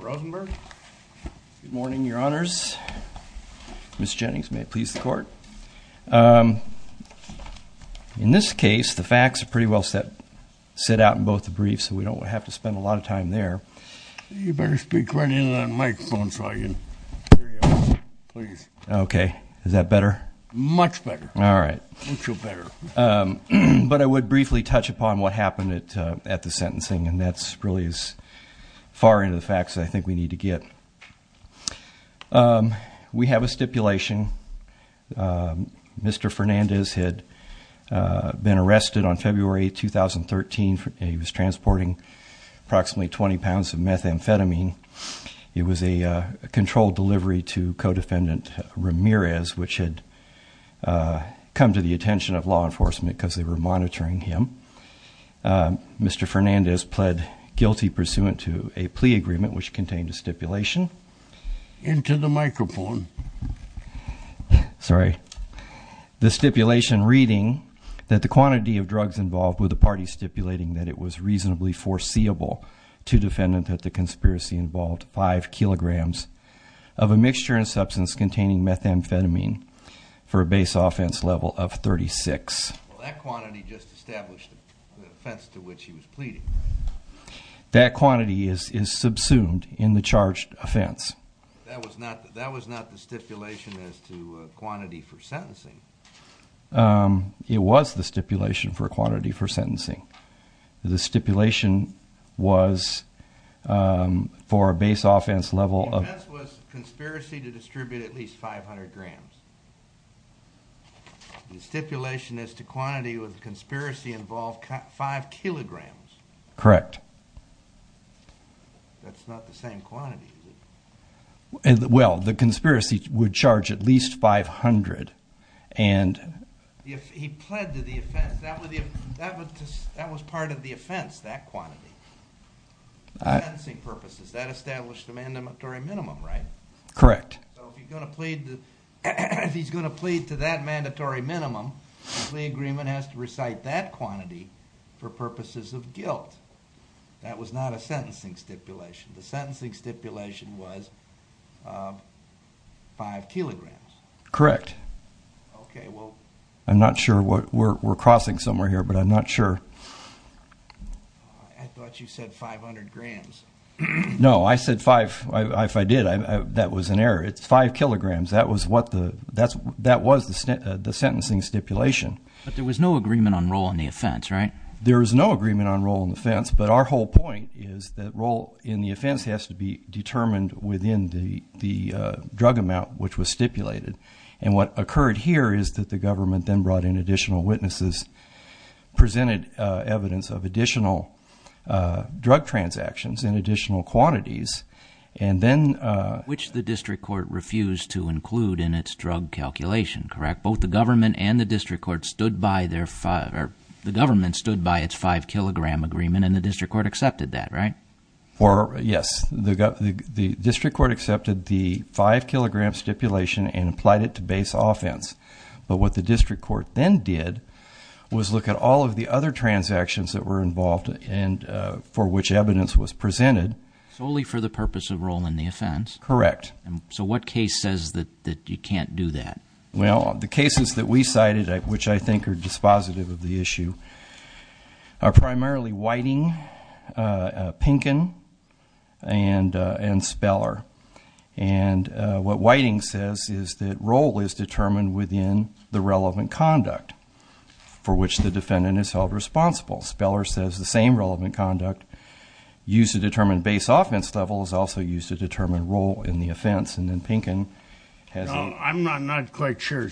Rosenberg morning your honors miss Jennings may it please the court in this case the facts are pretty well set set out in both the briefs so we don't have to spend a lot of time there you better speak running on my phone so I can okay is that better much better all right but I would briefly touch upon what happened it at the sentencing and that's really as far into the facts I think we need to get we have a stipulation mr. Fernandez had been arrested on February 2013 he was transporting approximately 20 pounds of methamphetamine it was a controlled delivery to co-defendant Ramirez which had come to the attention of law enforcement because they were monitoring him mr. Fernandez pled guilty pursuant to a plea agreement which contained a stipulation into the microphone sorry the stipulation reading that the quantity of drugs involved with the party stipulating that it was reasonably foreseeable to defendant that the conspiracy involved five kilograms of a mixture and substance containing methamphetamine for a base offense level of 36 that quantity is subsumed in the charged offense it was the stipulation for quantity for sentencing the stipulation was for a base offense level of conspiracy to distribute at least 500 grams the stipulation as to quantity with conspiracy involved five kilograms correct well the conspiracy would charge at least 500 and that was part of the offense that quantity purposes that established a mandatory minimum right correct he's going to plead to that mandatory minimum the agreement has to recite that quantity for purposes of guilt that was not a sentencing stipulation the sentencing stipulation was five kilograms correct okay well I'm not sure what we're crossing somewhere here but I'm not sure no I said five if I did I that was an error it's five kilograms that was what the that's that was the state the sentencing stipulation but there was no agreement on role in the offense right there is no agreement on role in the fence but our whole point is that role in the offense has to be determined within the the drug amount which was stipulated and what occurred here is that the government then brought in additional witnesses presented evidence of additional drug transactions in additional quantities and then which the district court refused to include in its drug calculation correct both the government and the district court stood by their father the government stood by its five kilogram agreement and the district court accepted that right or yes the district court accepted the five gram stipulation and applied it to base offense but what the district court then did was look at all of the other transactions that were involved and for which evidence was presented solely for the purpose of role in the offense correct and so what case says that that you can't do that well the cases that we cited at which I think are dispositive of the issue are primarily whiting Pinkin and and Speller and what Whiting says is that role is determined within the relevant conduct for which the defendant is held responsible Speller says the same relevant conduct used to determine base offense level is also used to determine role in the offense and then Pinkin has I'm not quite sure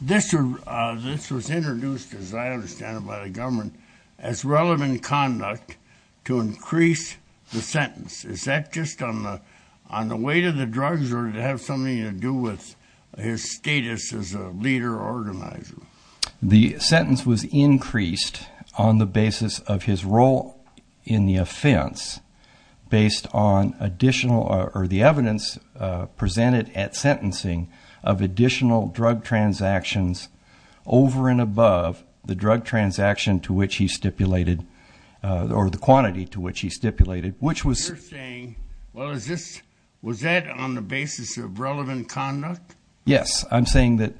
this was introduced as I understand it by the government as relevant conduct to increase the sentence is that just on the on the weight of the drugs or to have something to do with his status as a leader organizer the sentence was increased on the basis of his role in the offense based on additional or the sentencing of additional drug transactions over and above the drug transaction to which he stipulated or the quantity to which he stipulated which was saying well is this was that on the basis of relevant conduct yes I'm saying that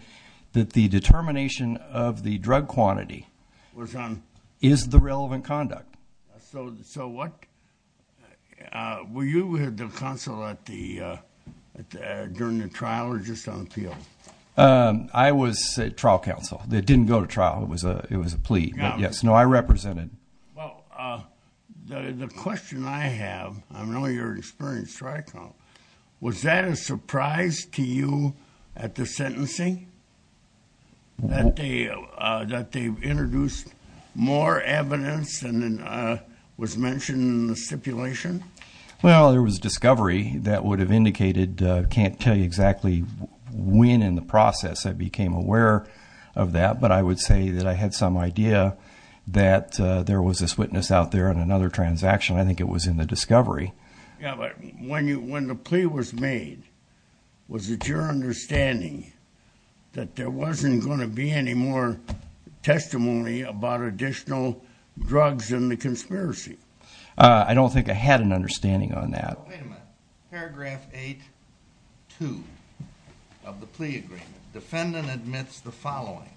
that the determination of the drug quantity was on is the relevant conduct I was trial counsel that didn't go to trial it was a it was a plea yes no I represented was that a surprise to you at the sentencing that they that they introduced more evidence and then was mentioned in the stipulation well there was discovery that would have indicated can't tell you exactly when in the process I became aware of that but I would say that I had some idea that there was this witness out there and another transaction I think it was in the discovery yeah but when you when the plea was made was it your understanding that there wasn't going to be any more testimony about additional drugs in the conspiracy I don't think I had an understanding on that paragraph 8 2 of the plea agreement defendant admits the following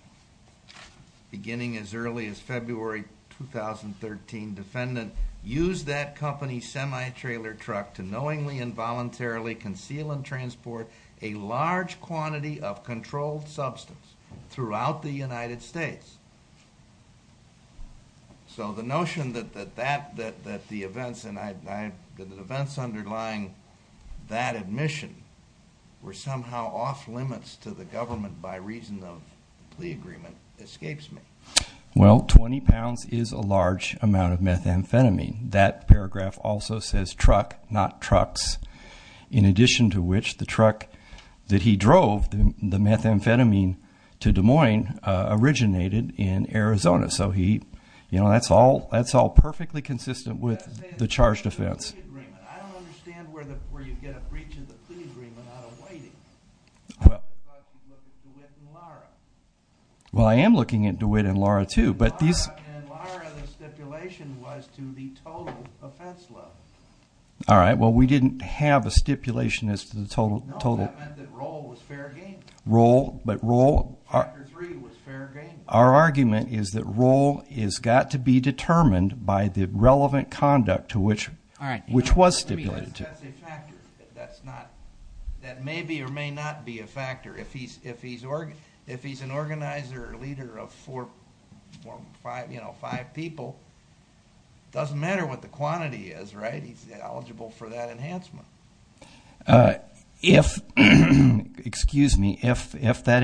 beginning as early as February 2013 defendant used that company semi-trailer truck to knowingly voluntarily conceal and transport a large quantity of controlled substance throughout the United States so the notion that that that that the events and I've been events underlying that admission were somehow off-limits to the government by reason of the agreement escapes me well 20 pounds is a large amount of methamphetamine that paragraph also says truck not trucks in addition to which the truck that he drove them the methamphetamine to Des Moines originated in Arizona so he you know that's all that's all perfectly consistent with the charge defense well I am looking at DeWitt and Laura too but these all right well we didn't have a stipulation as to the total total role but role our argument is that role is got to be determined by the relevant conduct to which all right which was stipulated to that's not that may be or may not be a factor if he's if he's or if he's an organizer leader of four five you know five people doesn't matter what the quantity is right he's eligible for that enhancement if excuse me if if that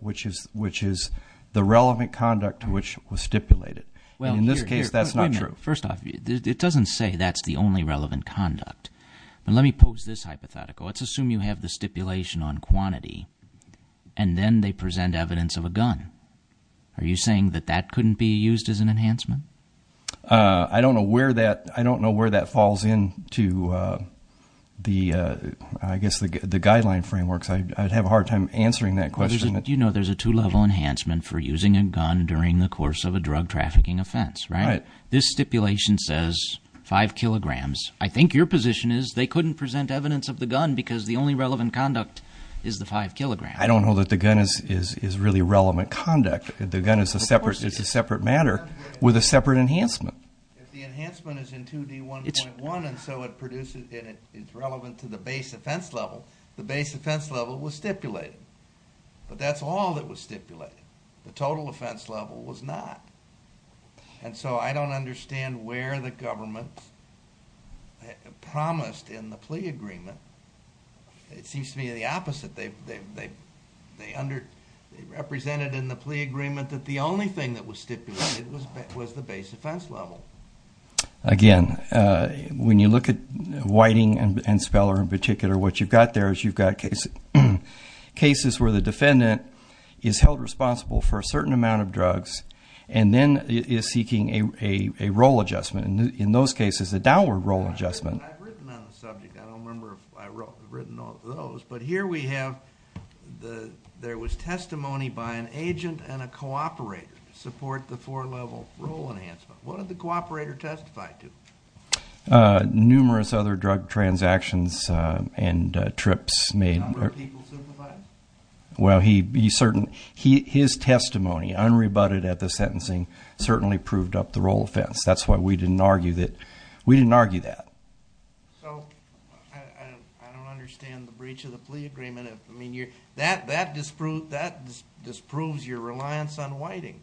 which is the relevant conduct which was stipulated well in this case that's not true first off it doesn't say that's the only relevant conduct and let me pose this hypothetical let's assume you have the stipulation on quantity and then they present evidence of a gun are you saying that that couldn't be used as an enhancement I don't know where that I don't know where that falls in to the I guess the guideline frameworks I'd have a hard time answering that question that you know there's a two-level enhancement for using a gun during the course of a drug trafficking offense right this stipulation says five kilograms I think your position is they couldn't present evidence of the gun because the only relevant conduct is the five kilogram I don't know that the gun is is is really relevant conduct the gun is a separate it's a separate matter with a separate enhancement it's relevant to the base offense level the that's all that was stipulated the total offense level was not and so I don't understand where the government promised in the plea agreement it seems to me the opposite they've they've they under represented in the plea agreement that the only thing that was stipulated was the base offense level again when you look at whiting and Speller in particular what you've got there is you've got cases cases where the defendant is held responsible for a certain amount of drugs and then is seeking a role adjustment in those cases a downward role adjustment but here we have the there was testimony by an agent and a cooperator to support the four level role enhancement what did the well he be certain he his testimony unrebutted at the sentencing certainly proved up the role of fence that's why we didn't argue that we didn't argue that that that disproved that disproves your reliance on whiting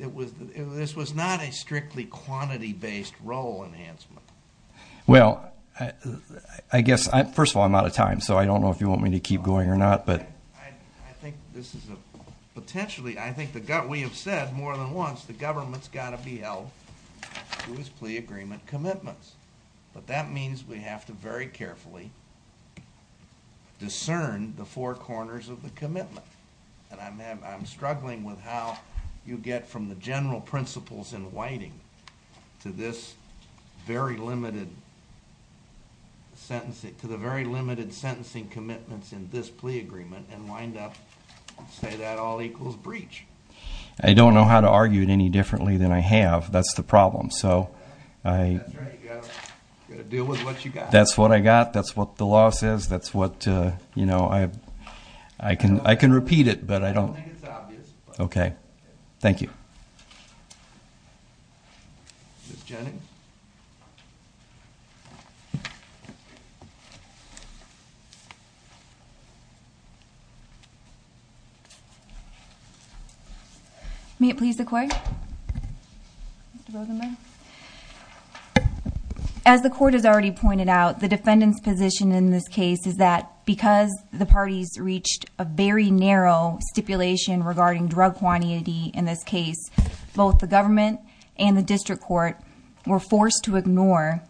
it was this was not a strictly quantity based role enhancement well I guess I first of all a lot of time so I don't know if you want me to keep going or not but I think this is a potentially I think the gut we have said more than once the government's got to be held whose plea agreement commitments but that means we have to very carefully discern the four corners of the commitment and I'm having I'm struggling with how you get from the general principles in whiting to this very limited sentencing to the very limited sentencing commitments in this plea agreement and wind up say that all equals breach I don't know how to argue it any differently than I have that's the problem so that's what I got that's what the law says that's what you know I I can I can repeat it but I don't okay thank you may it please the court as the court has already pointed out the defendant's position in this case is that because the party's reached a very narrow stipulation regarding drug quantity in this case both the government and the district court were forced to ignore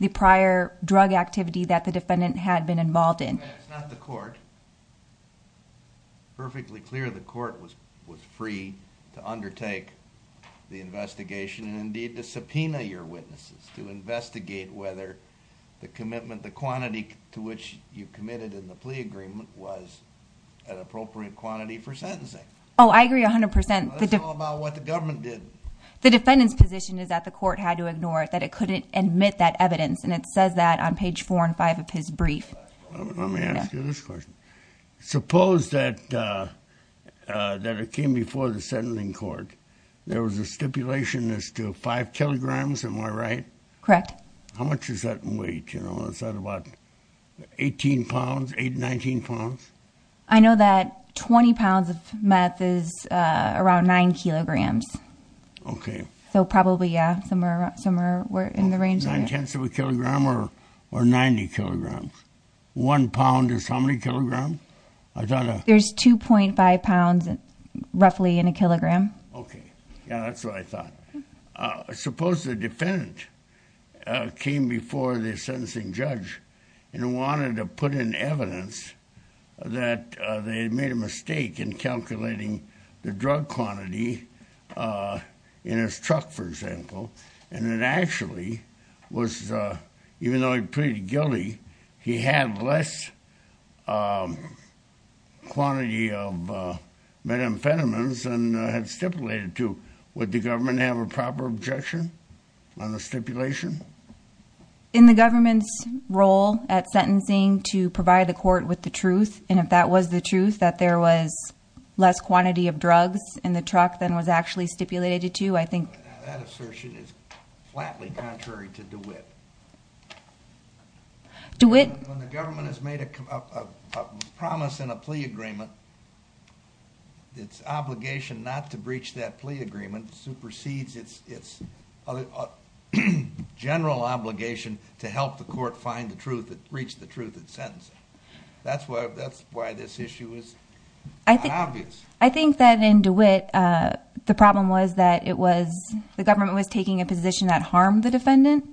the prior drug activity that the defendant had been involved in the court perfectly clear the court was was free to undertake the investigation and indeed the subpoena your witnesses to investigate whether the commitment the quantity to which you committed in the oh I agree a hundred percent the government did the defendant's position is that the court had to ignore it that it couldn't admit that evidence and it says that on page four and five of his brief suppose that that it came before the sending court there was a stipulation as to five kilograms and we're right correct how much is that in weight you know is around nine kilograms okay so probably yeah somewhere somewhere we're in the range of a kilogram or or 90 kilograms one pound is how many kilogram I thought there's 2.5 pounds and roughly in a kilogram okay yeah that's what I thought I suppose the defendant came before the and wanted to put in evidence that they made a mistake in calculating the drug quantity in his truck for example and it actually was even though he pretty guilty he had less quantity of methamphetamines and had stipulated to what the government have a proper objection on the stipulation in the government's role at sentencing to provide the court with the truth and if that was the truth that there was less quantity of drugs in the truck than was actually stipulated to I think do it the government has made a promise in a plea agreement its obligation not to breach that plea agreement supersedes it's it's a general obligation to help the court find the truth that breached the truth that sentence that's why that's why this issue is I think obvious I think that in DeWitt the problem was that it was the government was taking a position that harmed the defendant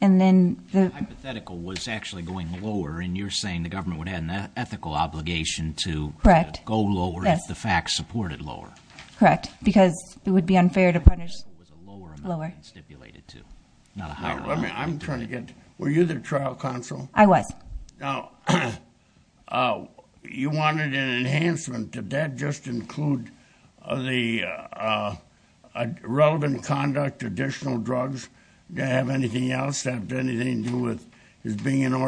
and then the hypothetical was actually going lower and you're saying the government would had an ethical obligation to correct go over that's the fact supported lower correct because it would be unfair to punish lower stipulated to I'm trying to get were you the trial counsel I was oh you wanted an enhancement to that just include the relevant conduct additional drugs to have anything else have anything to do with his being an the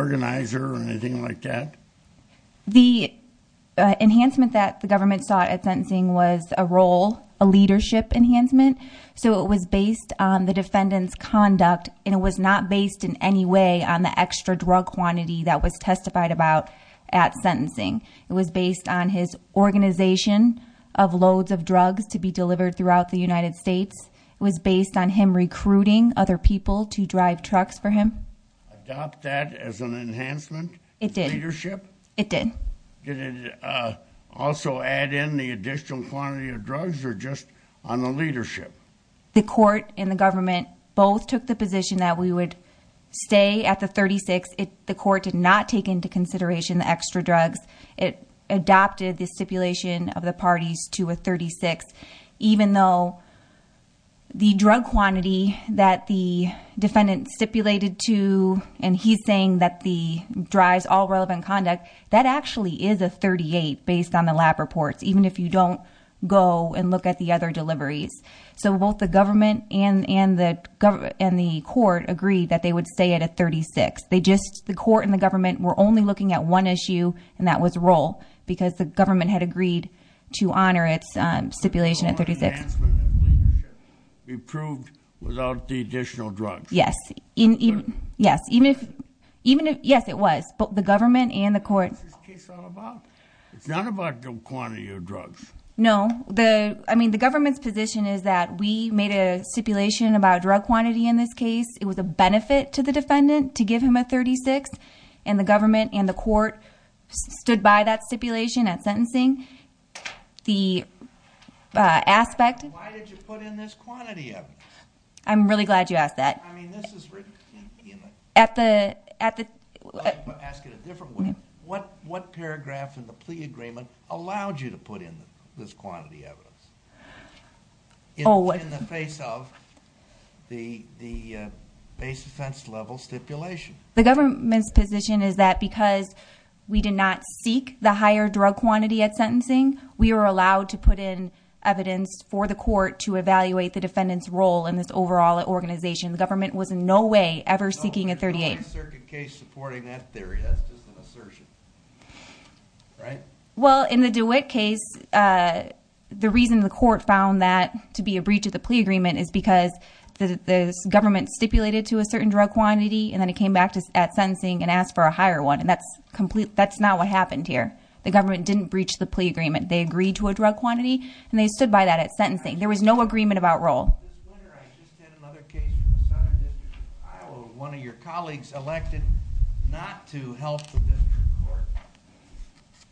government sought at sentencing was a role a leadership enhancement so it was based on the defendants conduct and it was not based in any way on the extra drug quantity that was testified about at sentencing it was based on his organization of loads of drugs to be delivered throughout the United States was based on him recruiting other people to drive trucks for him it did it did also add in the additional quantity of drugs or just on the leadership the court in the government both took the position that we would stay at the 36 if the court did not take into consideration the extra drugs it adopted the stipulation of the parties to a 36 even though the drug quantity that the defendant stipulated to and he's saying that the drives all relevant conduct that actually is a 38 based on the lab reports even if you don't go and look at the other deliveries so both the government and and the government and the court agreed that they would stay at a 36 they just the court and the government were only looking at one issue and that was role because the government had agreed to honor its stipulation at 36 approved without the additional drugs yes in even yes even if even if yes it was but the government and the court it's not about the quantity of drugs no the I mean the government's position is that we made a stipulation about drug quantity in this case it was a benefit to the defendant to give him a 36 and the government and the court stood by that stipulation at sentencing the aspect I'm really glad you asked that at the at the what what paragraph in the plea agreement allowed you to put in this quantity evidence always in the face of the the base offense level stipulation the government's position is that because we did not seek the higher drug quantity at sentencing we were allowed to put in evidence for the court to evaluate the defendants role in this overall organization the government was in no way ever seeking a 38 well in the do it case the reason the court found that to be a breach of the plea agreement is because the government stipulated to a certain drug quantity and then it came back to at sentencing and asked for a higher one and that's complete that's not what happened here the government didn't breach the plea agreement they agreed to a drug quantity and they stood by that at sentencing there was no agreement about role one of your colleagues elected not to help the district court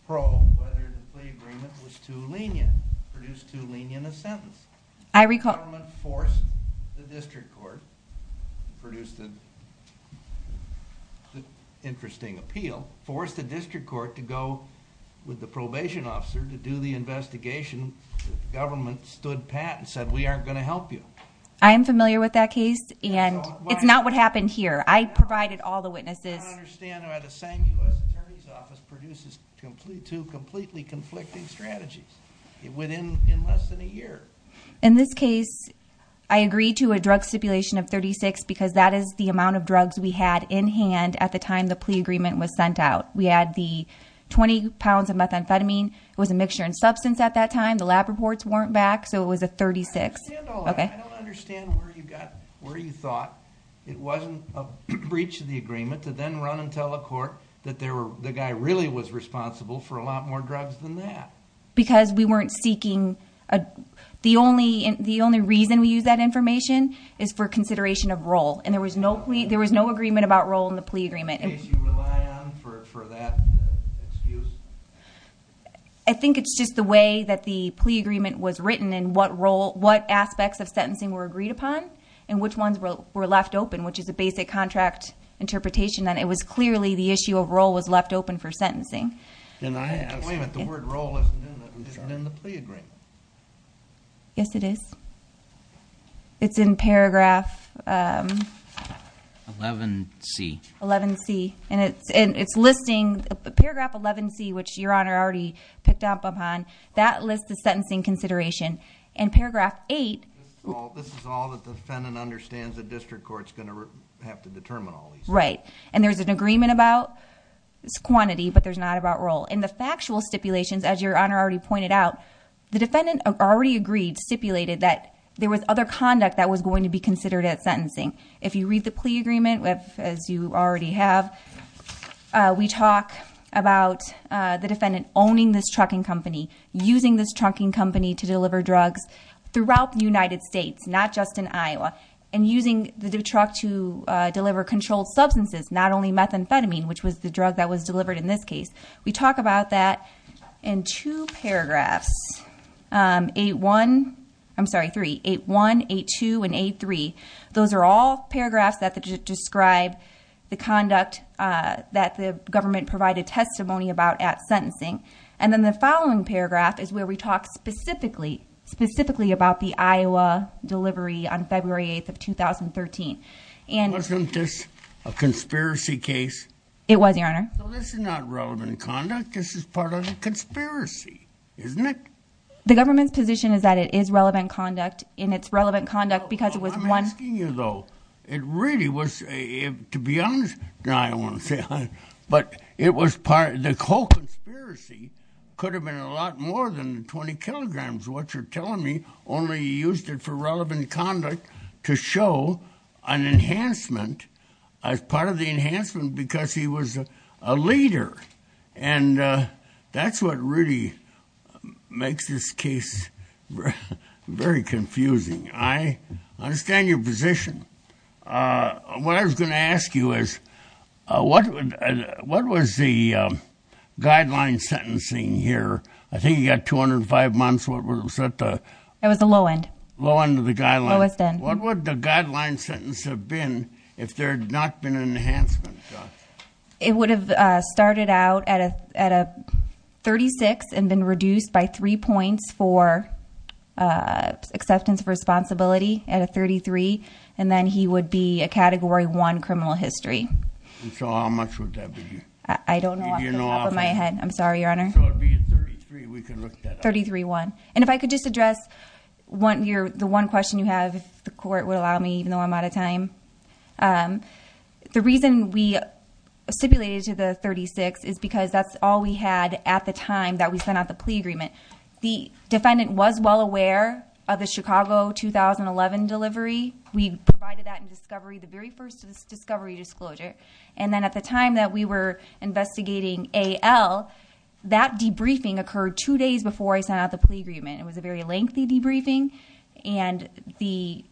probe whether the plea agreement was too lenient produced too lenient a sentence I recall the government forced the district court produced an interesting appeal forced the district court to go with the probation officer to do the investigation government stood pat and said we aren't going to help you I am familiar with that case and it's not what happened here I provided all the witnesses completely conflicting strategies in this case I agree to a drug stipulation of 36 because that is the amount of drugs we had in hand at the time the plea agreement was sent out we had the 20 pounds of methamphetamine was a substance at that time the lab reports weren't back so it was a 36 where you thought it wasn't a breach of the agreement to then run and tell a court that there were the guy really was responsible for a lot more drugs than that because we weren't seeking a the only and the only reason we use that information is for consideration of role and there was no plea there was no about role in the plea agreement I think it's just the way that the plea agreement was written and what role what aspects of sentencing were agreed upon and which ones were left open which is a basic contract interpretation that it was clearly the issue of role was left open for sentencing yes it is it's in paragraph 11 C 11 C and it's and it's listing the paragraph 11 C which your honor already picked up upon that list the sentencing consideration and paragraph 8 right and there's an agreement about its quantity but there's not about role in the factual stipulations as your honor already pointed out the defendant already agreed stipulated that there was other conduct that was going to be considered at sentencing if you read the plea agreement with as you already have we talk about the defendant owning this trucking company using this trucking company to deliver drugs throughout the United States not just in Iowa and using the truck to deliver controlled substances not only methamphetamine which was the drug that was delivered in this case we talk about that in two paragraphs 8 1 I'm sorry 3 8 1 8 2 and 8 3 those are all paragraphs that describe the conduct that the government provided testimony about at sentencing and then the following paragraph is where we talk specifically specifically about the Iowa delivery on February 8th 2013 and wasn't this a conspiracy case it was your honor this is not relevant conduct this is part of the conspiracy isn't it the government's position is that it is relevant conduct in its relevant conduct because it was one asking you though it really was if to be honest now I want to say but it was part of the whole conspiracy could have been a lot more than 20 kilograms what you're to show an enhancement as part of the enhancement because he was a leader and that's what really makes this case very confusing I understand your position what I was going to ask you is what what was the guideline sentencing here I think you got 205 months what was that it was the low end low end of the guy what would the guideline sentence have been if there had not been an enhancement it would have started out at a at a 36 and been reduced by three points for acceptance of responsibility at a 33 and then he would be a category 1 criminal history I don't know my head I'm sorry your honor 33 1 and if I could just one year the one question you have the court will allow me even though I'm out of time the reason we stipulated to the 36 is because that's all we had at the time that we sent out the plea agreement the defendant was well aware of the Chicago 2011 delivery we disclosure and then at the time that we were investigating a L that debriefing occurred two days before I sent out the agreement it was a very lengthy debriefing and the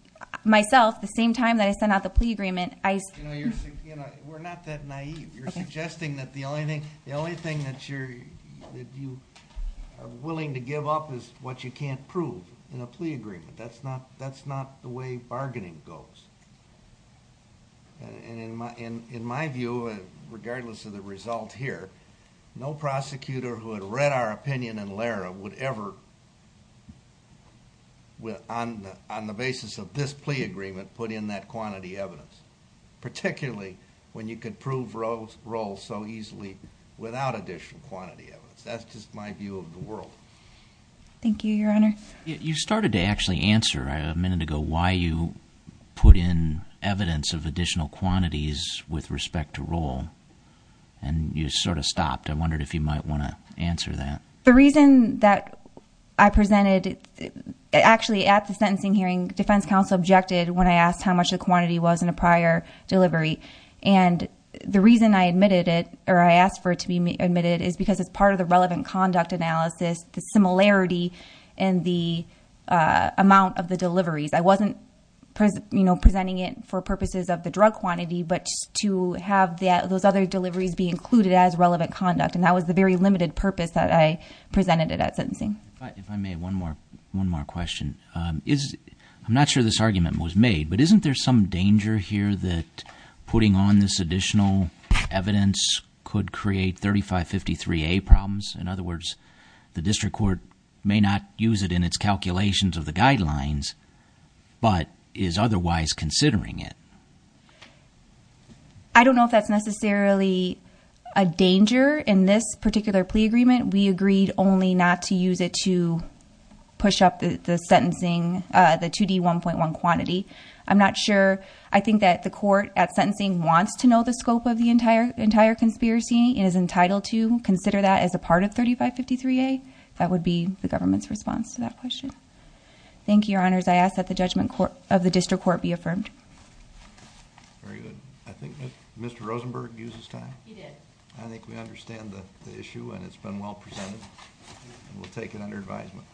myself the same time that I sent out the plea agreement you're suggesting that the only thing the only thing that you're willing to give up is what you can't prove in a plea agreement that's not that's not the way bargaining goes and in my in in my view regardless of the result here no prosecutor who had read our opinion and well I'm on the basis of this plea agreement put in that quantity evidence particularly when you could prove rose roll so easily without additional quantity of it that's just my view of the world thank you your honor you started to actually answer a minute ago why you put in evidence of additional quantities with respect to roll and you sort of stopped I wondered if you might want to answer that the reason that I presented actually at the sentencing hearing defense counsel objected when I asked how much the quantity was in a prior delivery and the reason I admitted it or I asked for it to be admitted is because it's part of the relevant conduct analysis the similarity and the amount of the deliveries I wasn't you know presenting it for purposes of the drug quantity but to have that those other deliveries be included as relevant conduct and that was the very limited purpose that I presented it at sentencing one more one more question is I'm not sure this argument was made but isn't there some danger here that putting on this additional evidence could create 3553 a problems in other words the district court may not use it in its calculations of the guidelines but is otherwise considering it I don't know if that's necessarily a danger in this particular plea agreement we agreed only not to use it to push up the sentencing the 2d 1.1 quantity I'm not sure I think that the court at sentencing wants to know the scope of the entire entire conspiracy and is entitled to consider that as a part of 3553 a that would be the government's response to that question thank you your Rosenberg uses time I think we understand the issue and it's been well presented and we'll take it under advisement